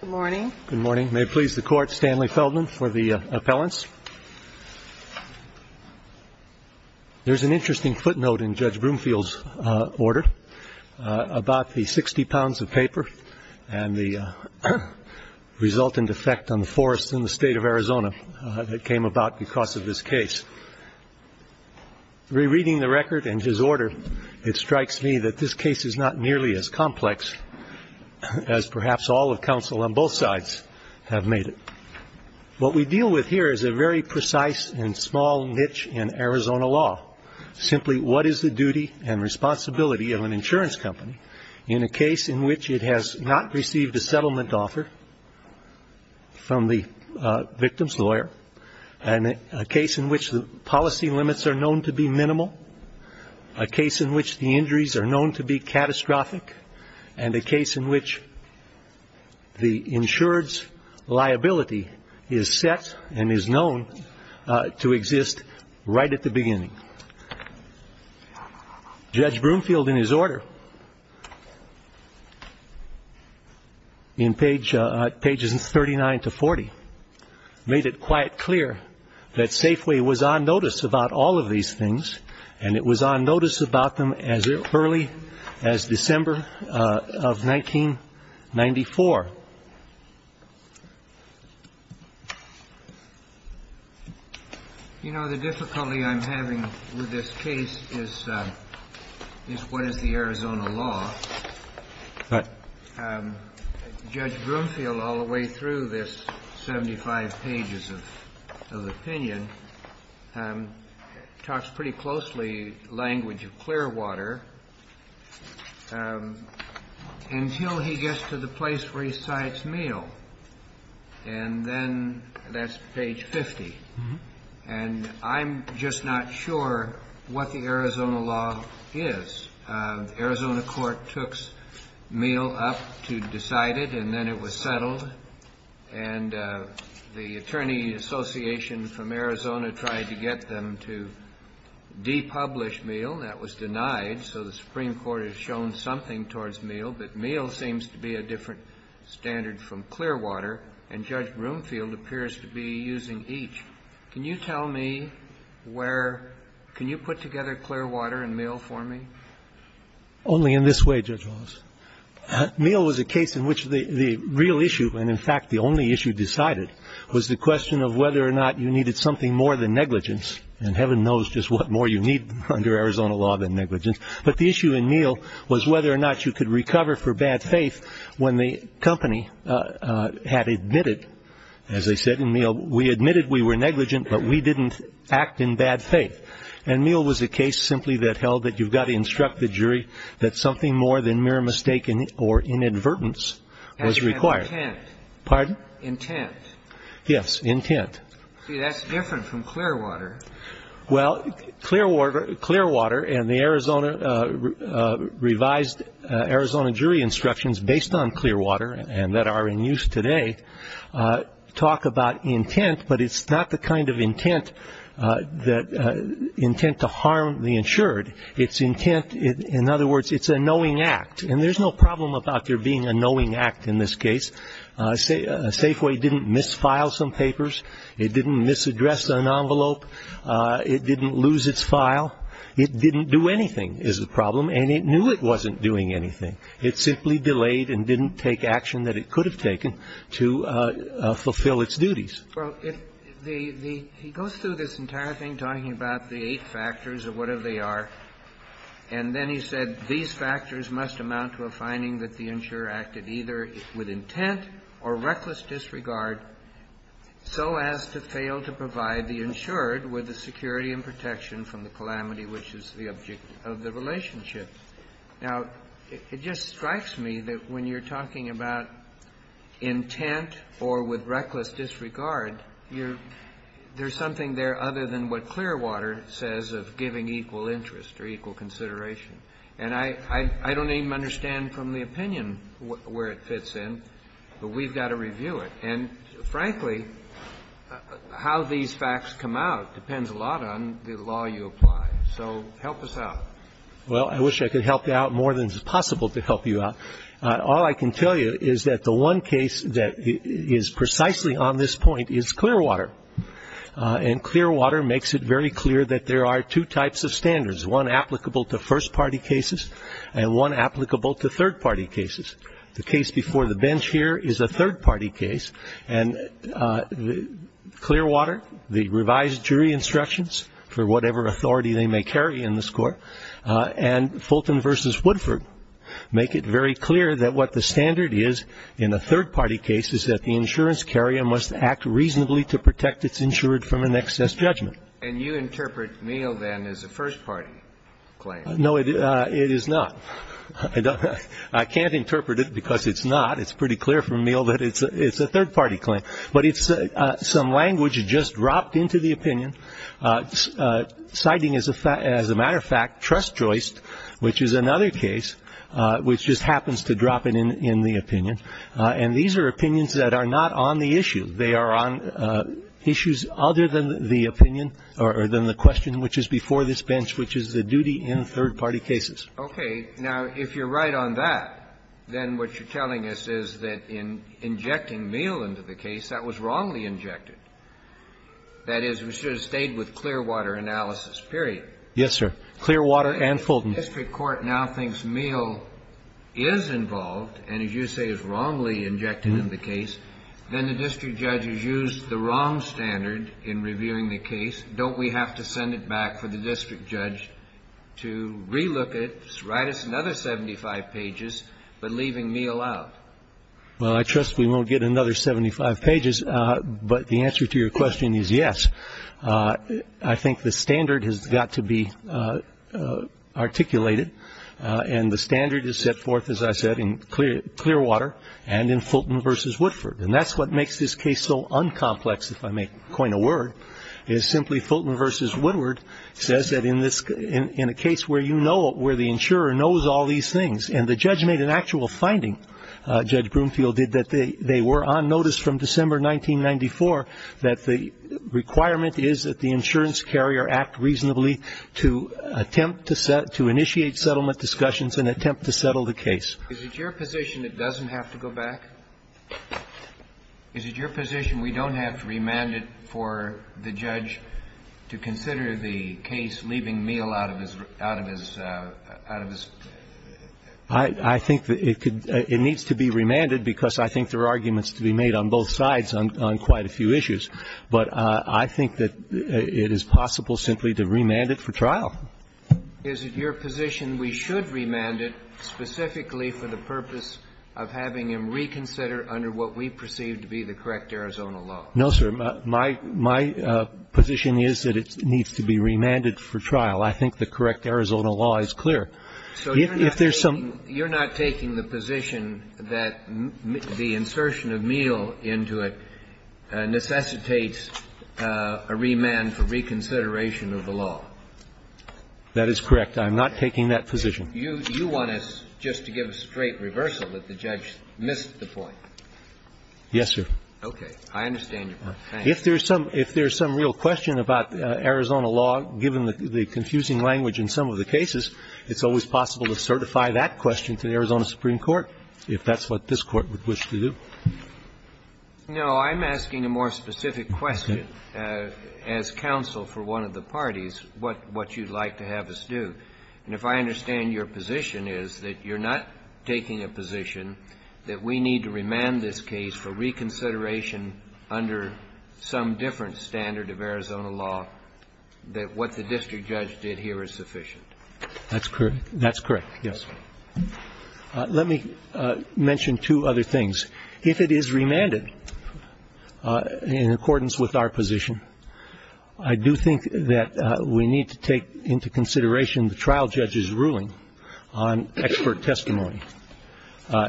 Good morning. Good morning. May it please the Court, Stanley Feldman for the appellants. There's an interesting footnote in Judge Broomfield's order about the 60 pounds of paper and the resultant effect on the forests in the state of Arizona that came about because of this case. Rereading the record and his order, it strikes me that this case is not nearly as complex as perhaps all of counsel on both sides have made it. What we deal with here is a very precise and small niche in Arizona law, simply what is the duty and responsibility of an insurance company in a case in which it has not received a settlement offer from the victim's lawyer and a case in which the policy limits are known to be minimal, a case in which the injuries are known to be catastrophic, and a case in which the insurer's liability is set and is known to exist right at the beginning. Judge Broomfield, in his order in pages 39 to 40, made it quite clear that Safeway was on notice about all of these things and it was on notice about them as early as December of 1994. You know, the difficulty I'm having with this case is what is the Arizona law. But Judge Broomfield, all the way through this 75 pages of opinion, talks pretty closely language of Clearwater. Until he gets to the place where he cites Meele, and then that's page 50. And I'm just not sure what the Arizona law is. The Arizona court took Meele up to decide it, and then it was settled. And the attorney association from Arizona tried to get them to depublish Meele. That was denied. So the Supreme Court has shown something towards Meele. But Meele seems to be a different standard from Clearwater. And Judge Broomfield appears to be using each. Can you tell me where ñ can you put together Clearwater and Meele for me? Only in this way, Judge Wallace. Meele was a case in which the real issue, and in fact the only issue decided, was the question of whether or not you needed something more than negligence. And heaven knows just what more you need under Arizona law than negligence. But the issue in Meele was whether or not you could recover for bad faith when the company had admitted, as they said in Meele, we admitted we were negligent but we didn't act in bad faith. And Meele was a case simply that held that you've got to instruct the jury that something more than mere mistake or inadvertence was required. As in intent. Pardon? Intent. Yes, intent. See, that's different from Clearwater. Well, Clearwater and the Arizona revised Arizona jury instructions based on Clearwater and that are in use today talk about intent, but it's not the kind of intent that ñ intent to harm the insured. It's intent ñ in other words, it's a knowing act. And there's no problem about there being a knowing act in this case. Safeway didn't misfile some papers. It didn't misaddress an envelope. It didn't lose its file. It didn't do anything is the problem. And it knew it wasn't doing anything. It simply delayed and didn't take action that it could have taken to fulfill its duties. Well, if the ñ he goes through this entire thing talking about the eight factors or whatever they are, and then he said, must amount to a finding that the insurer acted either with intent or reckless disregard so as to fail to provide the insured with the security and protection from the calamity, which is the object of the relationship. Now, it just strikes me that when you're talking about intent or with reckless disregard, there's something there other than what Clearwater says of giving equal interest or equal consideration. And I don't even understand from the opinion where it fits in, but we've got to review it. And, frankly, how these facts come out depends a lot on the law you apply. So help us out. Well, I wish I could help you out more than is possible to help you out. All I can tell you is that the one case that is precisely on this point is Clearwater. And Clearwater makes it very clear that there are two types of standards, one applicable to first-party cases and one applicable to third-party cases. The case before the bench here is a third-party case, and Clearwater, the revised jury instructions for whatever authority they may carry in this Court, and Fulton v. Woodford make it very clear that what the standard is in a third-party case is that the insurance carrier must act reasonably to protect its insured from an excess judgment. And you interpret Meehl, then, as a first-party claim. No, it is not. I can't interpret it because it's not. It's pretty clear from Meehl that it's a third-party claim. But it's some language just dropped into the opinion, citing, as a matter of fact, Trest-Joyst, which is another case, which just happens to drop it in the opinion. And these are opinions that are not on the issue. They are on issues other than the opinion or than the question which is before this bench, which is the duty in third-party cases. Okay. Now, if you're right on that, then what you're telling us is that in injecting Meehl into the case, that was wrongly injected. That is, we should have stayed with Clearwater analysis, period. Yes, sir. Clearwater and Fulton. If the district court now thinks Meehl is involved and, as you say, is wrongly injected in the case, then the district judge has used the wrong standard in reviewing the case. Don't we have to send it back for the district judge to relook it, write us another 75 pages, but leaving Meehl out? Well, I trust we won't get another 75 pages. But the answer to your question is yes. I think the standard has got to be articulated. And the standard is set forth, as I said, in Clearwater and in Fulton v. Woodford. And that's what makes this case so un-complex, if I may coin a word, is simply Fulton v. Woodward says that in a case where the insurer knows all these things, and the judge made an actual finding, Judge Broomfield did, that they were on notice from December 1994 that the requirement is that the insurance carrier act the case. Is it your position it doesn't have to go back? Is it your position we don't have to remand it for the judge to consider the case leaving Meehl out of his room? I think it could need to be remanded, because I think there are arguments to be made on both sides on quite a few issues. But I think that it is possible simply to remand it for trial. Is it your position we should remand it specifically for the purpose of having him reconsider under what we perceive to be the correct Arizona law? No, sir. My position is that it needs to be remanded for trial. I think the correct Arizona law is clear. If there's some ---- So you're not taking the position that the insertion of Meehl into it necessitates a remand for reconsideration of the law? That is correct. I'm not taking that position. You want us just to give a straight reversal that the judge missed the point? Yes, sir. Okay. I understand your point. Thank you. If there's some real question about Arizona law, given the confusing language in some of the cases, it's always possible to certify that question to the Arizona Supreme Court, if that's what this Court would wish to do. No, I'm asking a more specific question. Okay. As counsel for one of the parties, what you'd like to have us do. And if I understand your position is that you're not taking a position that we need to remand this case for reconsideration under some different standard of Arizona law, that what the district judge did here is sufficient. That's correct. That's correct, yes. Let me mention two other things. If it is remanded in accordance with our position, I do think that we need to take into consideration the trial judge's ruling on expert testimony.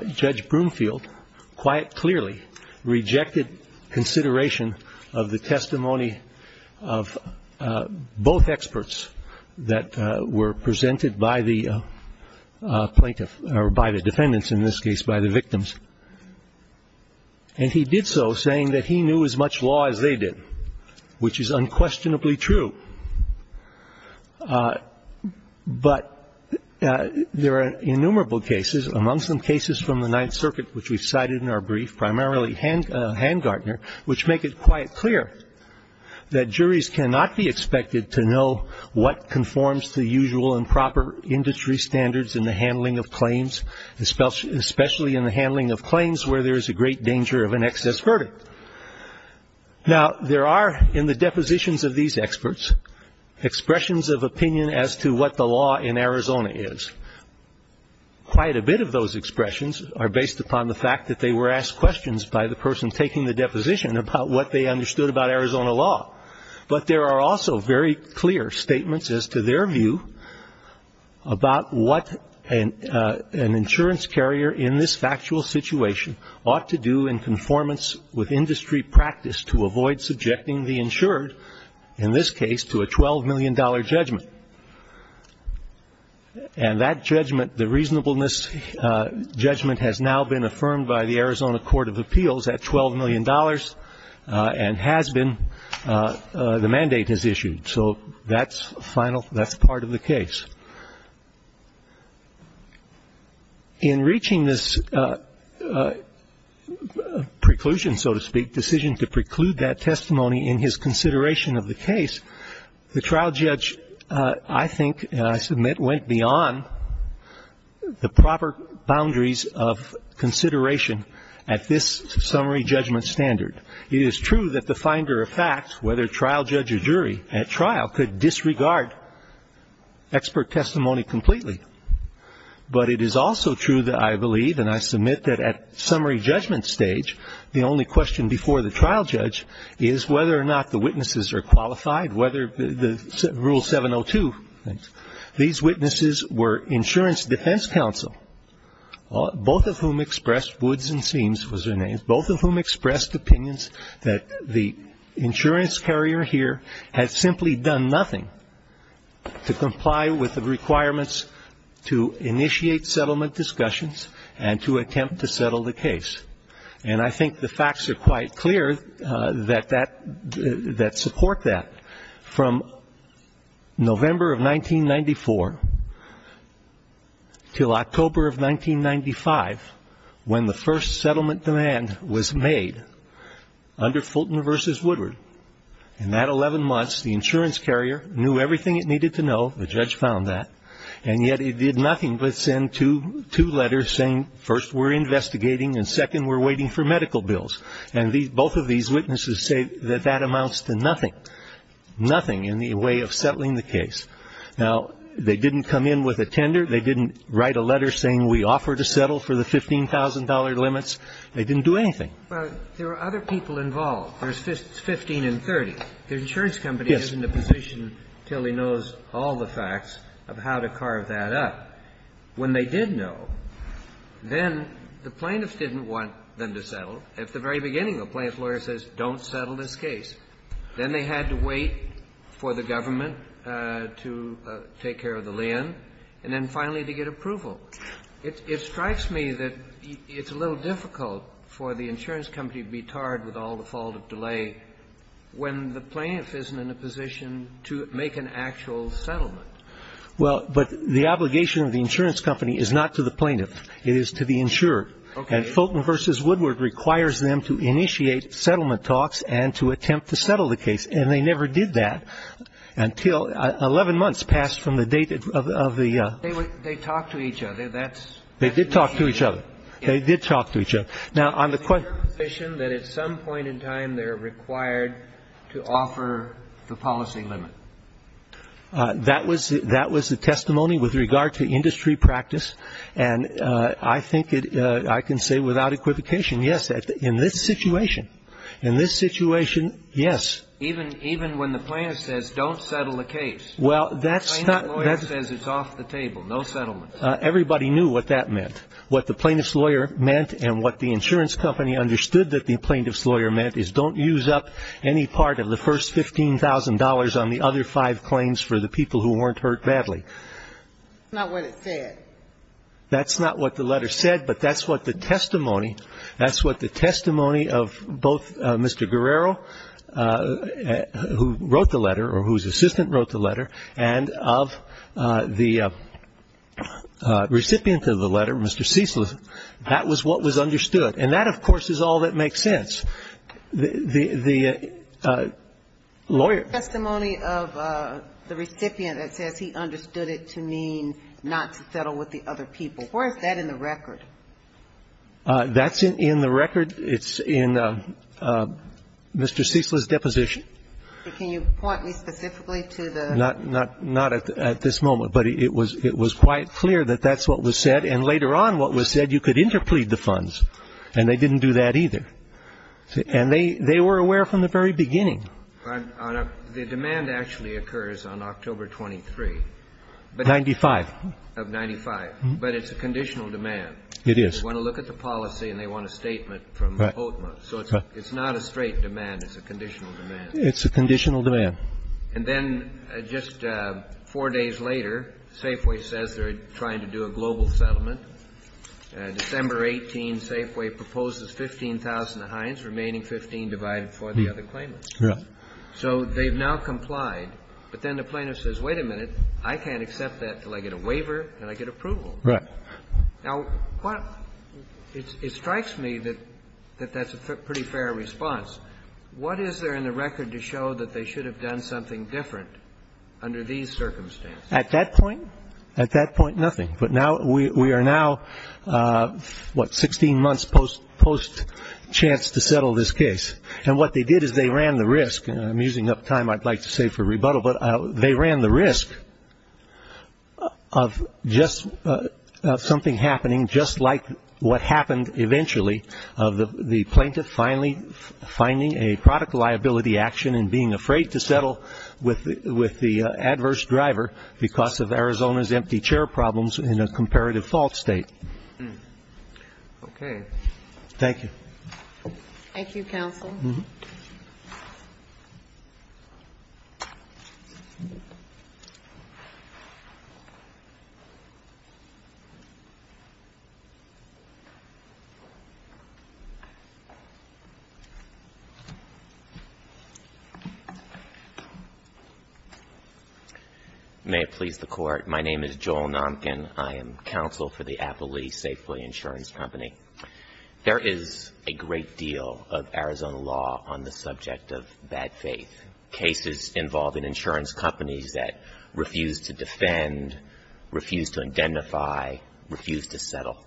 Judge Broomfield quite clearly rejected consideration of the testimony of both experts that were presented by the plaintiff, or by the defendants in this case, by the victims. And he did so saying that he knew as much law as they did, which is unquestionably true. But there are innumerable cases, among some cases from the Ninth Circuit, which we've cited in our brief, primarily Handgartner, which make it quite clear that we know what conforms to usual and proper industry standards in the handling of claims, especially in the handling of claims where there is a great danger of an excess verdict. Now, there are, in the depositions of these experts, expressions of opinion as to what the law in Arizona is. Quite a bit of those expressions are based upon the fact that they were asked questions by the person taking the deposition about what they understood about Arizona law. But there are also very clear statements as to their view about what an insurance carrier in this factual situation ought to do in conformance with industry practice to avoid subjecting the insured, in this case, to a $12 million judgment. And that judgment, the reasonableness judgment, has now been affirmed by the mandate as issued. So that's final, that's part of the case. In reaching this preclusion, so to speak, decision to preclude that testimony in his consideration of the case, the trial judge, I think, and I submit went beyond the proper boundaries of consideration at this summary judgment standard. It is true that the finder of fact, whether trial judge or jury at trial, could disregard expert testimony completely. But it is also true that I believe, and I submit that at summary judgment stage, the only question before the trial judge is whether or not the witnesses are qualified, whether the rule 702. These witnesses were insurance defense counsel, both of whom expressed woods and seams was their name, both of whom expressed opinions that the insurance carrier here had simply done nothing to comply with the requirements to initiate settlement discussions and to attempt to settle the case. And I think the facts are quite clear that support that. From November of 1994 till October of 1995, when the first settlement demand was made under Fulton v. Woodward, in that 11 months, the insurance carrier knew everything it needed to know, the judge found that, and yet it did nothing but send two letters saying, first, we're investigating, and second, we're waiting for medical bills. And both of these witnesses say that that amounts to nothing, nothing in the way of settling the case. Now, they didn't come in with a tender. They didn't write a letter saying we offer to settle for the $15,000 limits. They didn't do anything. But there are other people involved. There's 15 and 30. The insurance company isn't in a position till he knows all the facts of how to carve that up. When they did know, then the plaintiffs didn't want them to settle. At the very beginning, the plaintiff's lawyer says, don't settle this case. Then they had to wait for the government to take care of the land. And then finally to get approval. It strikes me that it's a little difficult for the insurance company to be tarred with all the fault of delay when the plaintiff isn't in a position to make an actual settlement. Well, but the obligation of the insurance company is not to the plaintiff. It is to the insurer. Okay. And Fulton v. Woodward requires them to initiate settlement talks and to attempt to settle the case. And they never did that until 11 months passed from the date of the ---- They talked to each other. That's ---- They did talk to each other. They did talk to each other. Now, on the -------- that at some point in time they're required to offer the policy limit. That was the testimony with regard to industry practice. And I think I can say without equivocation, yes, in this situation, in this situation, yes. Even when the plaintiff says don't settle the case. Well, that's not ---- The plaintiff's lawyer says it's off the table, no settlement. Everybody knew what that meant. What the plaintiff's lawyer meant and what the insurance company understood that the plaintiff's lawyer meant is don't use up any part of the first $15,000 on the other five claims for the people who weren't hurt badly. That's not what it said. That's not what the letter said, but that's what the testimony, that's what the testimony of both Mr. Guerrero, who wrote the letter or whose assistant wrote the letter, and of the recipient of the letter, Mr. Cecil, that was what was understood. And that, of course, is all that makes sense. The lawyer ---- The testimony of the recipient that says he understood it to mean not to settle with the other people. Where is that in the record? That's in the record. It's in Mr. Cecil's deposition. But can you point me specifically to the ---- Not at this moment, but it was quite clear that that's what was said. And later on what was said, you could interplead the funds. And they didn't do that either. And they were aware from the very beginning. Your Honor, the demand actually occurs on October 23. Ninety-five. Of 95. But it's a conditional demand. It is. They want to look at the policy and they want a statement from HOTMA. So it's not a straight demand. It's a conditional demand. It's a conditional demand. And then just four days later, Safeway says they're trying to do a global settlement. December 18, Safeway proposes 15,000 Heinz, remaining 15 divided for the other claimants. Right. So they've now complied. But then the plaintiff says, wait a minute, I can't accept that until I get a waiver and I get approval. Now, it strikes me that that's a pretty fair response. What is there in the record to show that they should have done something different under these circumstances? At that point? At that point, nothing. But now we are now, what, 16 months post-chance to settle this case. And what they did is they ran the risk, and I'm using up time I'd like to save for rebuttal, but they ran the risk of just something happening just like what happened eventually of the plaintiff finally finding a product liability action and being afraid to settle with the adverse driver because of Arizona's empty chair problems in a comparative fault state. Okay. Thank you. Thank you, counsel. Thank you, counsel. May it please the Court. My name is Joel Nomkin. I am counsel for the Apple Lee Safely Insurance Company. There is a great deal of Arizona law on the subject of bad faith. Cases involving insurance companies that refuse to defend, refuse to identify, refuse to settle.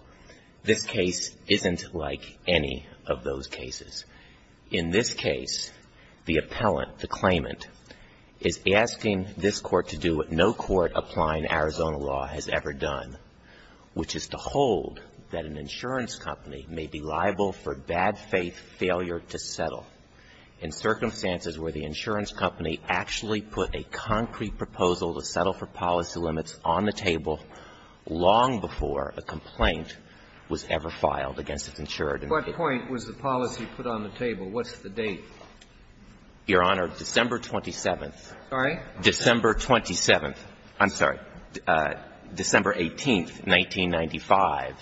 This case isn't like any of those cases. In this case, the appellant, the claimant, is asking this Court to do what no court applying in Arizona law has ever done, which is to hold that an insurance company may be liable for bad faith failure to settle in circumstances where the insurance company actually put a concrete proposal to settle for policy limits on the table long before a complaint was ever filed against its insured. What point was the policy put on the table? What's the date? Your Honor, December 27th. Sorry? December 27th. I'm sorry. December 18th, 1995,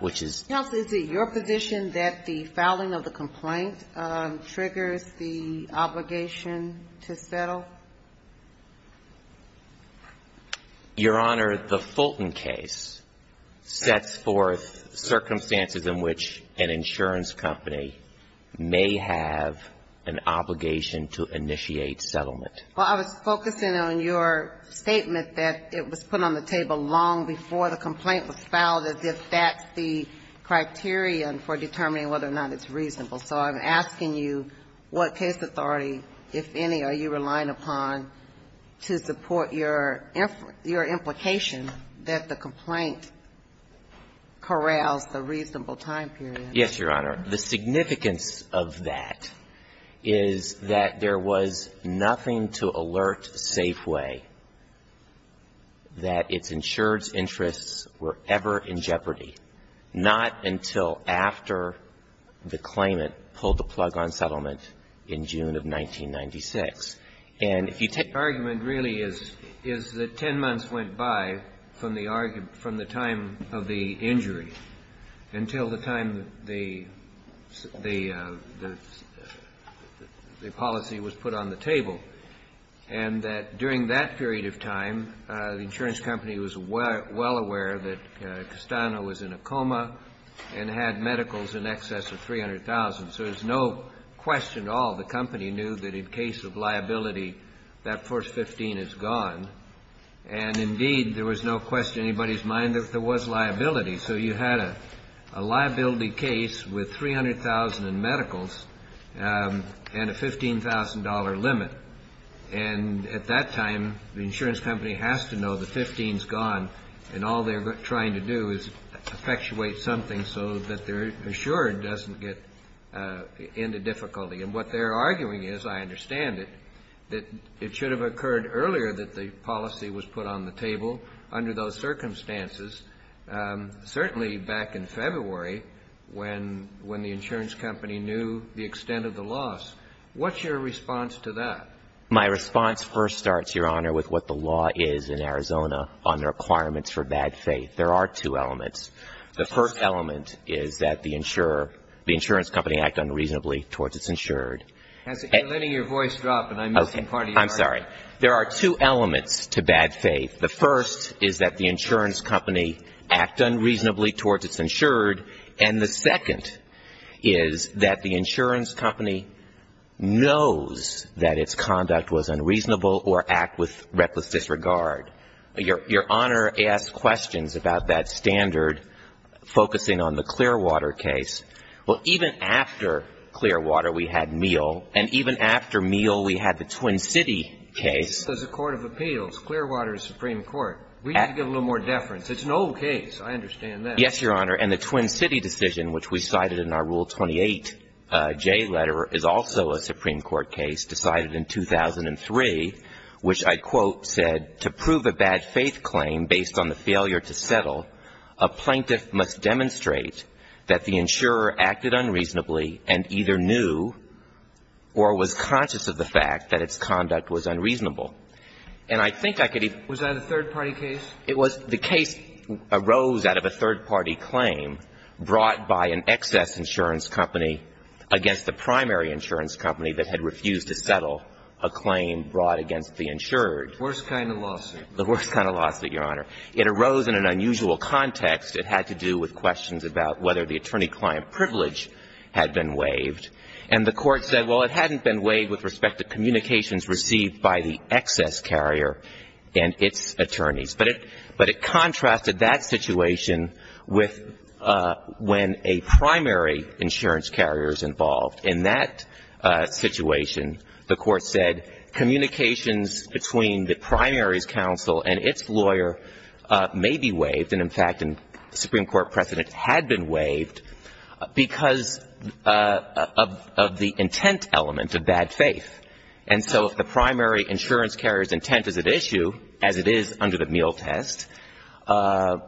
which is. Counsel, is it your position that the filing of the complaint triggers the obligation to settle? Your Honor, the Fulton case sets forth circumstances in which an insurance company may have an obligation to initiate settlement. Well, I was focusing on your statement that it was put on the table long before the complaint was filed as if that's the criterion for determining whether or not it's reasonable. So I'm asking you what case authority, if any, are you relying upon to support your implication that the complaint corrals the reasonable time period? Yes, Your Honor. The significance of that is that there was nothing to alert Safeway that its insured's interests were ever in jeopardy, not until after the claimant pulled the plug on settlement in June of 1996. And if you take the argument really is that ten months went by from the time of the the policy was put on the table, and that during that period of time, the insurance company was well aware that Castano was in a coma and had medicals in excess of 300,000. So there's no question at all the company knew that in case of liability, that first 15 is gone. And indeed, there was no question in anybody's mind that there was liability. So you had a liability case with 300,000 in medicals and a $15,000 limit. And at that time, the insurance company has to know the 15's gone, and all they're trying to do is effectuate something so that their insured doesn't get into difficulty. And what they're arguing is, I understand it, that it should have occurred earlier that the policy was put on the table under those circumstances, certainly back in February when the insurance company knew the extent of the loss. What's your response to that? My response first starts, Your Honor, with what the law is in Arizona on the requirements for bad faith. There are two elements. The first element is that the insurer, the insurance company, act unreasonably towards its insured. You're letting your voice drop, and I'm missing part of your argument. I'm sorry. There are two elements to bad faith. The first is that the insurance company act unreasonably towards its insured. And the second is that the insurance company knows that its conduct was unreasonable or act with reckless disregard. Your Honor asked questions about that standard, focusing on the Clearwater case. Well, even after Clearwater, we had Meehl, and even after Meehl, we had the Twin City case. As a court of appeals, Clearwater is Supreme Court. We need to give a little more deference. It's an old case. I understand that. Yes, Your Honor. And the Twin City decision, which we cited in our Rule 28J letter, is also a Supreme Court case decided in 2003, which I quote said, to prove a bad faith claim based on the failure to settle, a plaintiff must demonstrate that the insurer acted unreasonably and either knew or was conscious of the fact that its conduct was unreasonable. And I think I could even ---- Was that a third-party case? It was. The case arose out of a third-party claim brought by an excess insurance company against the primary insurance company that had refused to settle a claim brought against the insured. The worst kind of lawsuit. The worst kind of lawsuit, Your Honor. It arose in an unusual context. It had to do with questions about whether the attorney-client privilege had been waived. And the Court said, well, it hadn't been waived with respect to communications received by the excess carrier and its attorneys. But it contrasted that situation with when a primary insurance carrier is involved. In that situation, the Court said communications between the primary's counsel and its lawyer may be waived, and in fact, the Supreme Court precedent had been waived, because of the intent element of bad faith. And so if the primary insurance carrier's intent is at issue, as it is under the meal test, the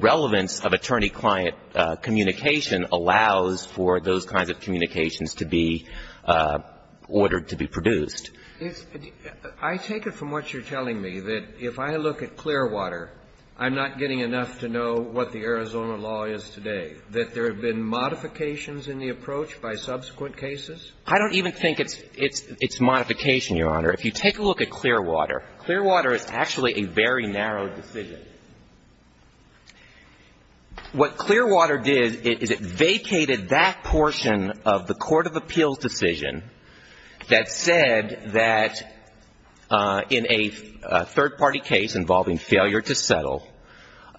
relevance of attorney-client communication allows for those kinds of communications to be ordered to be produced. If I take it from what you're telling me, that if I look at Clearwater, I'm not getting enough to know what the Arizona law is today, that there have been modifications in the approach by subsequent cases? I don't even think it's modification, Your Honor. If you take a look at Clearwater, Clearwater is actually a very narrow decision. What Clearwater did is it vacated that portion of the court of appeals decision that said that in a third-party case involving failure to settle,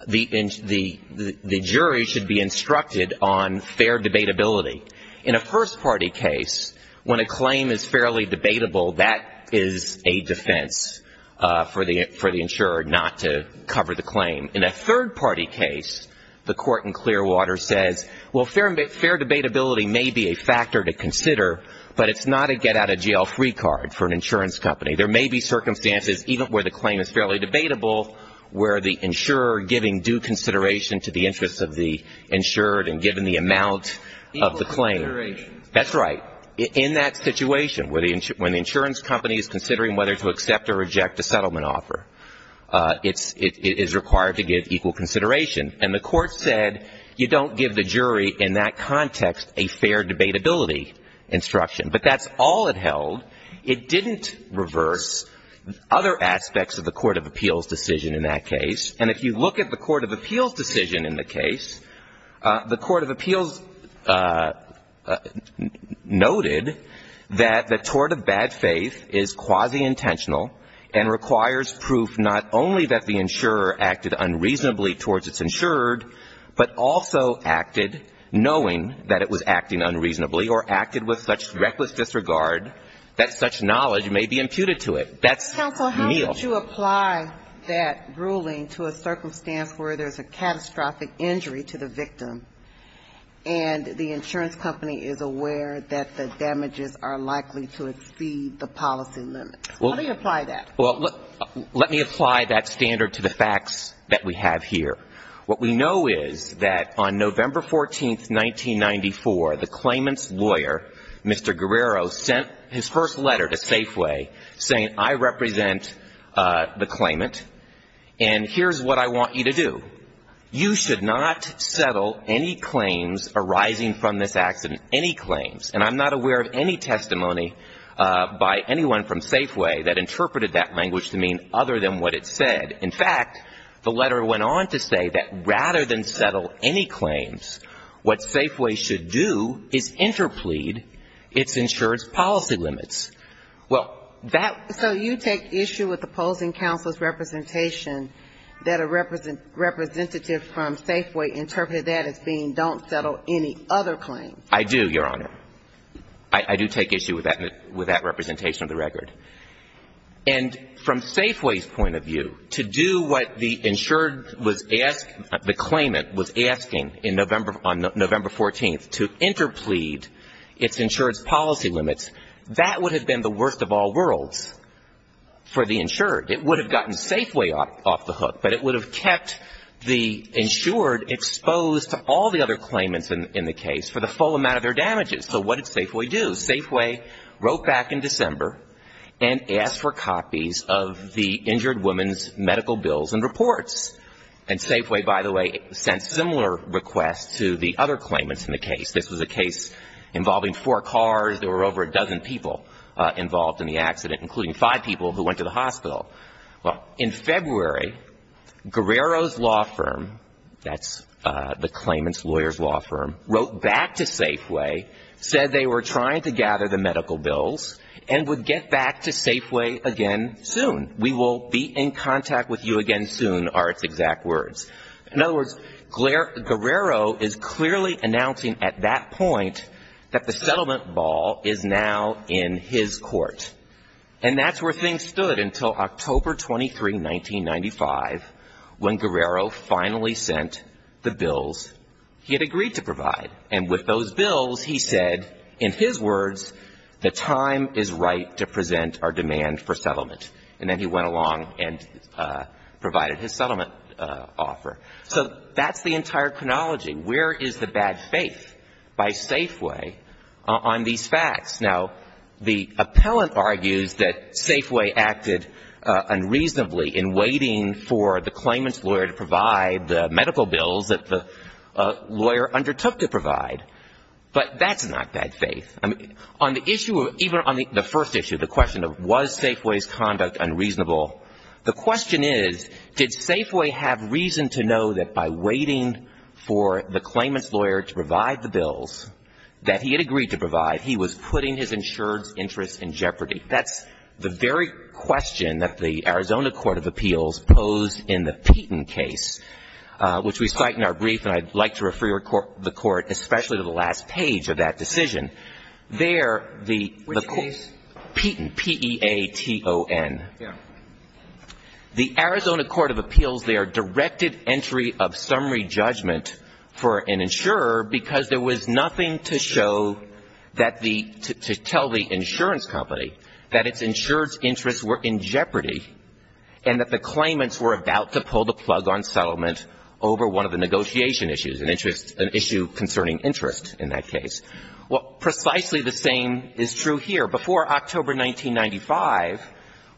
the jury should be instructed on fair debatability. In a first-party case, when a claim is fairly debatable, that is a defense for the insurer not to cover the claim. In a third-party case, the court in Clearwater says, well, fair debatability may be a factor to consider, but it's not a get-out-of-jail-free card for an insurance company. There may be circumstances, even where the claim is fairly debatable, where the insurer is giving due consideration to the interests of the insured and given the amount of the Equal consideration. That's right. In that situation, when the insurance company is considering whether to accept or reject a settlement offer, it is required to give equal consideration. And the court said you don't give the jury in that context a fair debatability instruction. But that's all it held. It didn't reverse other aspects of the court of appeals decision in that case. And if you look at the court of appeals decision in the case, the court of appeals noted that the tort of bad faith is quasi-intentional and requires proof not only that the insurer acted unreasonably towards its insured, but also acted knowing that it was acting unreasonably or acted with such reckless disregard that such knowledge may be imputed That's Neal. Would you apply that ruling to a circumstance where there's a catastrophic injury to the victim and the insurance company is aware that the damages are likely to exceed the policy limits? How do you apply that? Well, let me apply that standard to the facts that we have here. What we know is that on November 14th, 1994, the claimant's lawyer, Mr. Guerrero, sent his first letter to Safeway saying I represent the claimant and here's what I want you to do. You should not settle any claims arising from this accident, any claims. And I'm not aware of any testimony by anyone from Safeway that interpreted that language to mean other than what it said. In fact, the letter went on to say that rather than settle any claims, what Safeway should do is interplead its insurance policy limits. Well, that ---- So you take issue with opposing counsel's representation that a representative from Safeway interpreted that as being don't settle any other claims? I do, Your Honor. I do take issue with that representation of the record. And from Safeway's point of view, to do what the insured was asked, the claimant was asking in November ---- on November 14th to interplead its insurance policy limits. That would have been the worst of all worlds for the insured. It would have gotten Safeway off the hook, but it would have kept the insured exposed to all the other claimants in the case for the full amount of their damages. So what did Safeway do? Safeway wrote back in December and asked for copies of the injured woman's records, which was a similar request to the other claimants in the case. This was a case involving four cars. There were over a dozen people involved in the accident, including five people who went to the hospital. Well, in February, Guerrero's law firm, that's the claimant's lawyer's law firm, wrote back to Safeway, said they were trying to gather the medical bills, and would get back to Safeway again soon. We will be in contact with you again soon are its exact words. In other words, Guerrero is clearly announcing at that point that the settlement ball is now in his court. And that's where things stood until October 23, 1995, when Guerrero finally sent the bills he had agreed to provide. And with those bills, he said, in his words, the time is right to present our demand for settlement. And then he went along and provided his settlement offer. So that's the entire chronology. Where is the bad faith by Safeway on these facts? Now, the appellant argues that Safeway acted unreasonably in waiting for the claimant's lawyer to provide the medical bills that the lawyer undertook to provide. But that's not bad faith. On the issue of, even on the first issue, the question of was Safeway's conduct unreasonable, the question is, did Safeway have reason to know that by waiting for the claimant's lawyer to provide the bills that he had agreed to provide, he was putting his insurance interests in jeopardy? That's the very question that the Arizona Court of Appeals posed in the Peyton case, which we cite in our brief, and I'd like to refer you to the court, especially to the last page of that decision. There, the Peyton, P-E-A-T-O-N. The Arizona Court of Appeals there directed entry of summary judgment for an insurer because there was nothing to show that the, to tell the insurance company that its insurance interests were in jeopardy and that the claimants were about to pull the plug on settlement over one of the negotiation issues, an issue concerning interest in that case. Well, precisely the same is true here. Before October 1995,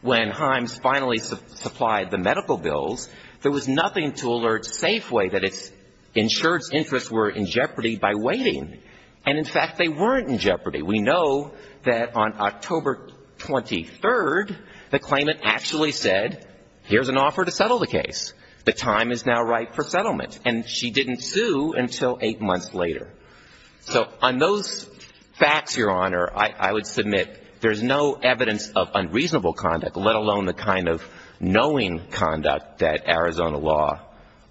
when Himes finally supplied the medical bills, there was nothing to alert Safeway that its insurance interests were in jeopardy by waiting. And, in fact, they weren't in jeopardy. We know that on October 23rd, the claimant actually said, here's an offer to settle the case. The time is now right for settlement. And she didn't sue until eight months later. So on those facts, Your Honor, I would submit there's no evidence of unreasonable conduct, let alone the kind of knowing conduct that Arizona law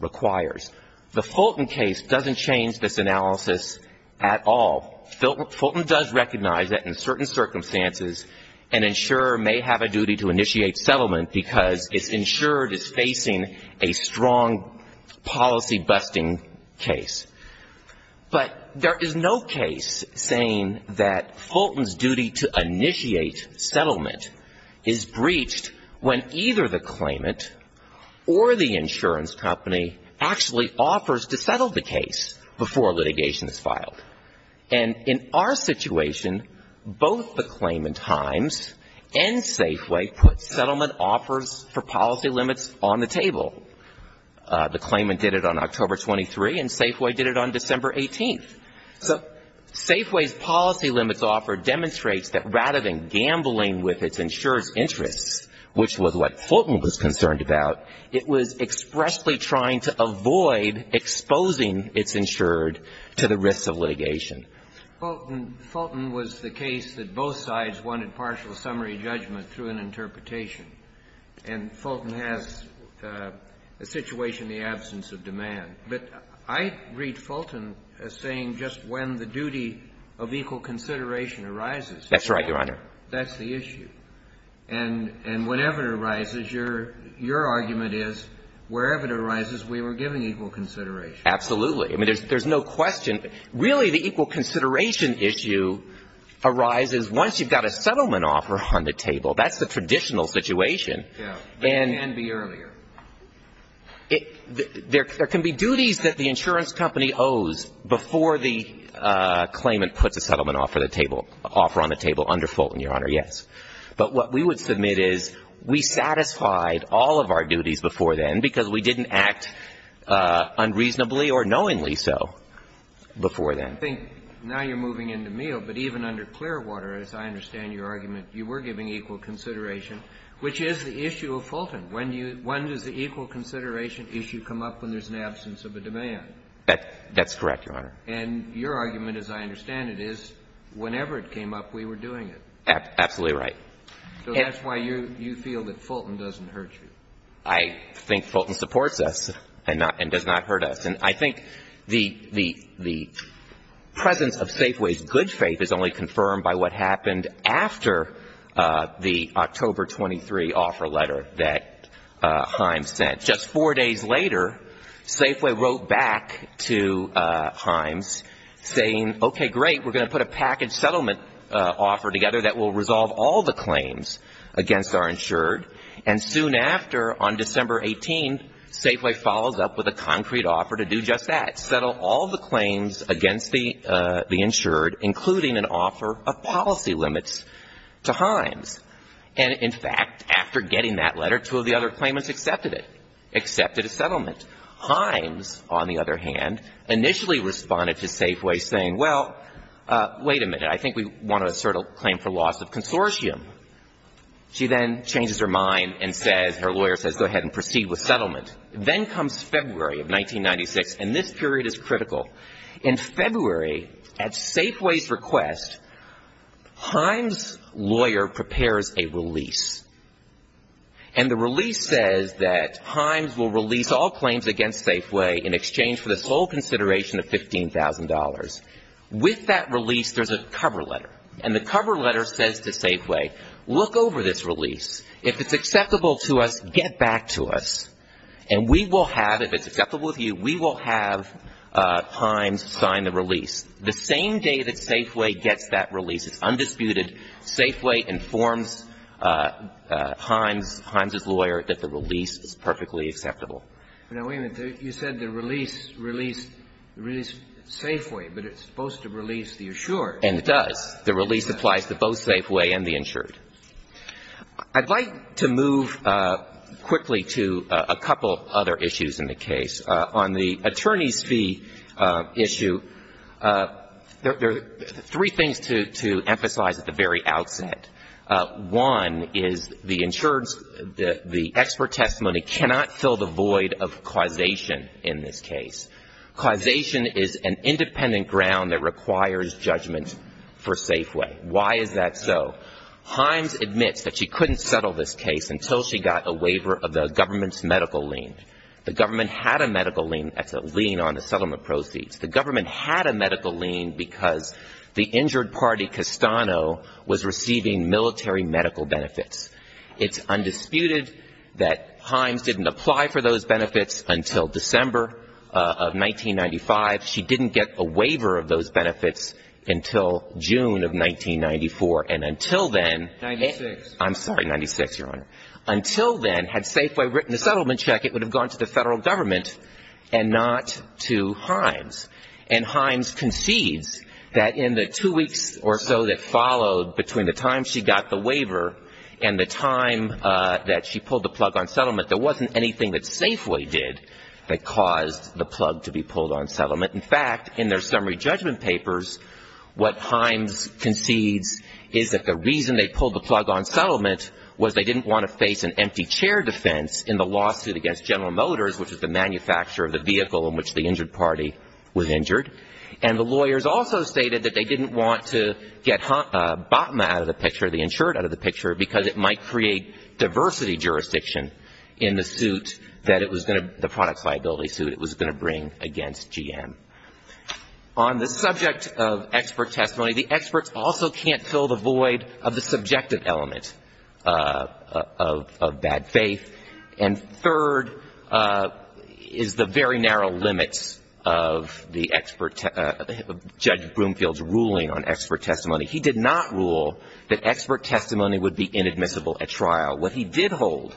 requires. The Fulton case doesn't change this analysis at all. Fulton does recognize that in certain circumstances, an insurer may have a duty to initiate settlement because its insurer is facing a strong policy-busting case. But there is no case saying that Fulton's duty to initiate settlement is breached when either the claimant or the insurance company actually offers to settle the case before litigation is filed. And in our situation, both the claimant, Himes, and Safeway put settlement offers for policy limits on the table. The claimant did it on October 23, and Safeway did it on December 18th. So Safeway's policy limits offer demonstrates that rather than gambling with its insurer's interests, which was what Fulton was concerned about, it was expressly trying to avoid exposing its insured to the risks of litigation. Fulton was the case that both sides wanted partial summary judgment through an interpretation. And Fulton has a situation in the absence of demand. But I read Fulton as saying just when the duty of equal consideration arises. That's right, Your Honor. That's the issue. And whenever it arises, your argument is wherever it arises, we were giving equal consideration. Absolutely. I mean, there's no question. Really, the equal consideration issue arises once you've got a settlement offer on the table. That's the traditional situation. Yeah. It can be earlier. There can be duties that the insurance company owes before the claimant puts a settlement offer on the table under Fulton, Your Honor, yes. But what we would submit is we satisfied all of our duties before then because we didn't act unreasonably or knowingly so before then. I think now you're moving into Meehl, but even under Clearwater, as I understand your argument, you were giving equal consideration, which is the issue of Fulton. When does the equal consideration issue come up when there's an absence of a demand? That's correct, Your Honor. And your argument, as I understand it, is whenever it came up, we were doing it. Absolutely right. So that's why you feel that Fulton doesn't hurt you. I think Fulton supports us and does not hurt us. And I think the presence of Safeway's good faith is only confirmed by what happened after the October 23 offer letter that Himes sent. Just four days later, Safeway wrote back to Himes saying, okay, great, we're going to put a package settlement offer together that will resolve all the claims against our insured. And soon after, on December 18, Safeway follows up with a concrete offer to do just that, settle all the claims against the insured, including an offer of policy limits to Himes. And in fact, after getting that letter, two of the other claimants accepted it, accepted a settlement. Himes, on the other hand, initially responded to Safeway saying, well, wait a minute, I think we want to assert a claim for loss of consortium. She then changes her mind and says, her lawyer says go ahead and proceed with settlement. Then comes February of 1996, and this period is critical. In February, at Safeway's request, Himes' lawyer prepares a release. And the release says that Himes will release all claims against Safeway in exchange for the sole consideration of $15,000. With that release, there's a cover letter. And the cover letter says to Safeway, look over this release. If it's acceptable to us, get back to us. And we will have, if it's acceptable to you, we will have Himes sign the release. The same day that Safeway gets that release, it's undisputed, Safeway informs Himes, Himes' lawyer, that the release is perfectly acceptable. But now, wait a minute. You said the release released Safeway, but it's supposed to release the insured. And it does. The release applies to both Safeway and the insured. I'd like to move quickly to a couple other issues in the case. On the attorney's fee issue, there are three things to emphasize at the very outset. One is the insured's, the expert testimony cannot fill the void of causation in this case. Causation is an independent ground that requires judgment for Safeway. Why is that so? Himes admits that she couldn't settle this case until she got a waiver of the government's medical lien. The government had a medical lien as a lien on the settlement proceeds. The government had a medical lien because the injured party, Castano, was receiving military medical benefits. It's undisputed that Himes didn't apply for those benefits until December of 1995. She didn't get a waiver of those benefits until June of 1994. And until then, I'm sorry, 96, Your Honor. Until then, had Safeway written the settlement check, it would have gone to the Federal government and not to Himes. And Himes concedes that in the two weeks or so that followed between the time she got the waiver and the time that she pulled the plug on settlement, there wasn't anything that Safeway did that caused the plug to be pulled on settlement. In fact, in their summary judgment papers, what Himes concedes is that the reason they pulled the plug on settlement was they didn't want to face an empty chair defense in the lawsuit against General Motors, which is the manufacturer of the vehicle in which the injured party was injured. And the lawyers also stated that they didn't want to get BATMA out of the picture, the insured out of the picture, because it might create diversity jurisdiction in the suit that it was going to, the product of expert testimony. The experts also can't fill the void of the subjective element of bad faith. And third is the very narrow limits of the expert, Judge Broomfield's ruling on expert testimony. He did not rule that expert testimony would be inadmissible at trial. What he did hold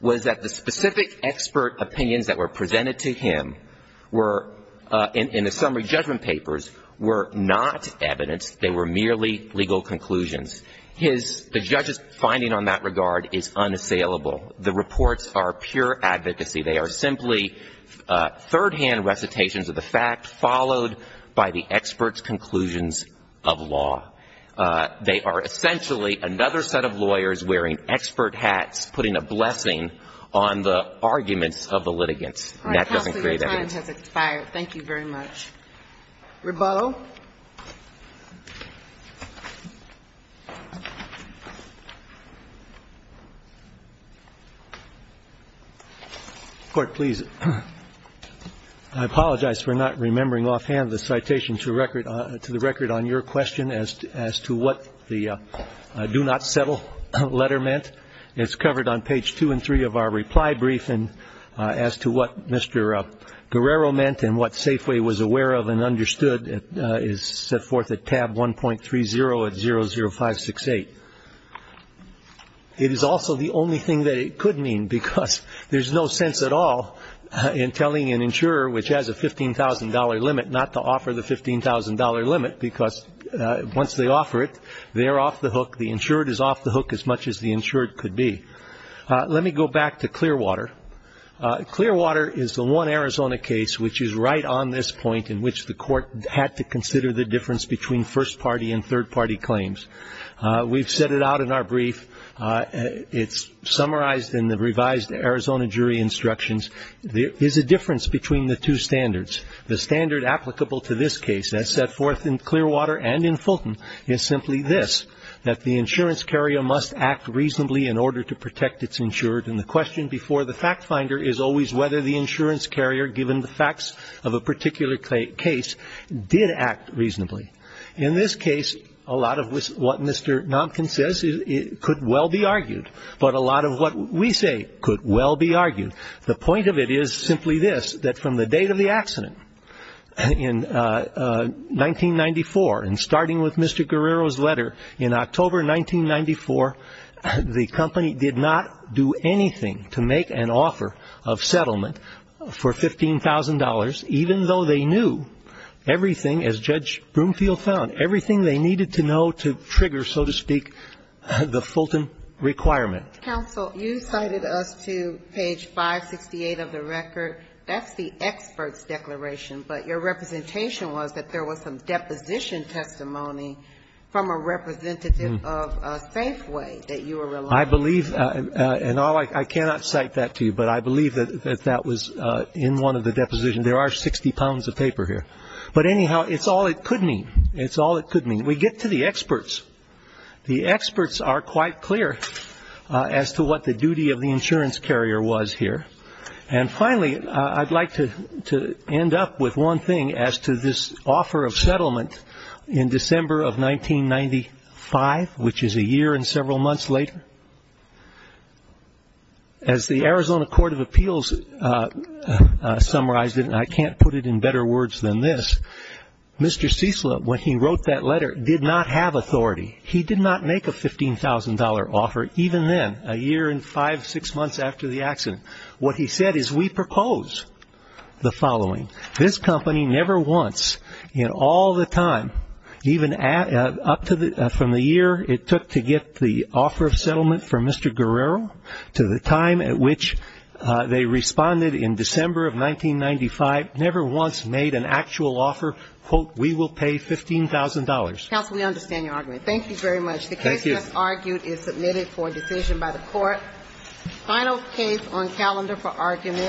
was that the specific expert opinions that were presented to him were, in the summary judgment papers, were not evidence. They were merely legal conclusions. The judge's finding on that regard is unassailable. The reports are pure advocacy. They are simply third-hand recitations of the fact, followed by the expert's conclusions of law. They are essentially another set of lawyers wearing expert hats, putting a blessing on the arguments of the litigants. And that doesn't create evidence. MS. GOTTLIEB All right. Counsel, your time has expired. Thank you very much. Rebuttal? MR. GOTTLIEB Court, please. I apologize for not remembering offhand the citation to the record on your question as to what the do-not-settle letter meant. It's covered on page 2 and 3 of our reply brief. And as to what Mr. Guerrero meant and what Safeway was aware of and understood, it is set forth at tab 1.30 at 00568. It is also the only thing that it could mean, because there's no sense at all in telling an insurer which has a $15,000 limit not to offer the $15,000 limit, because once they offer it, they're off the hook. The insured is off the hook as much as the insured could be. Let me go back to Clearwater. Clearwater is the one Arizona case which is right on this point in which the Court had to consider the difference between first-party and third-party claims. We've set it out in our brief. It's summarized in the revised Arizona jury instructions. There is a difference between the two standards. The standard applicable to this case as set forth in Clearwater and in Fulton is simply this, that the insurance carrier must act reasonably in order to protect its insured. And the question before the fact finder is always whether the insurance carrier, given the facts of a particular case, did act reasonably. In this case, a lot of what Mr. Nopkin says could well be argued, but a lot of what we say could well be argued. The point of it is simply this, that from the date of the accident, in November of this year, the insurance carrier, in October of 1994, and starting with Mr. Guerrero's letter, in October 1994, the company did not do anything to make an offer of settlement for $15,000, even though they knew everything, as Judge Broomfield found, everything they needed to know to trigger, so to speak, the Fulton requirement. Counsel, you cited us to page 568 of the record. That's the expert's declaration, but your representation was that there was some deposition testimony from a representative of Safeway that you were relying on. I believe, and I cannot cite that to you, but I believe that that was in one of the depositions. There are 60 pounds of paper here. But anyhow, it's all it could mean. It's all it could mean. We get to the experts. The experts are quite clear as to what the duty of the insurance carrier was here. And finally, I'd like to end up with one thing as to this offer of settlement in December of 1995, which is a year and several months later. As the Arizona Court of Appeals summarized it, and I can't put it in better words than this, Mr. Ciesla, when he wrote that letter, did not have authority. He did not make a $15,000 offer, even then, a year and five, six months after the accident. What he said is, we propose the following. This company never wants, in all of its history, to make an offer of settlement. All the time, even up to the year it took to get the offer of settlement from Mr. Guerrero, to the time at which they responded in December of 1995, never once made an actual offer, quote, we will pay $15,000. Counsel, we understand your argument. Thank you very much. The case, as argued, is submitted for decision by the court. Final case on calendar for argument.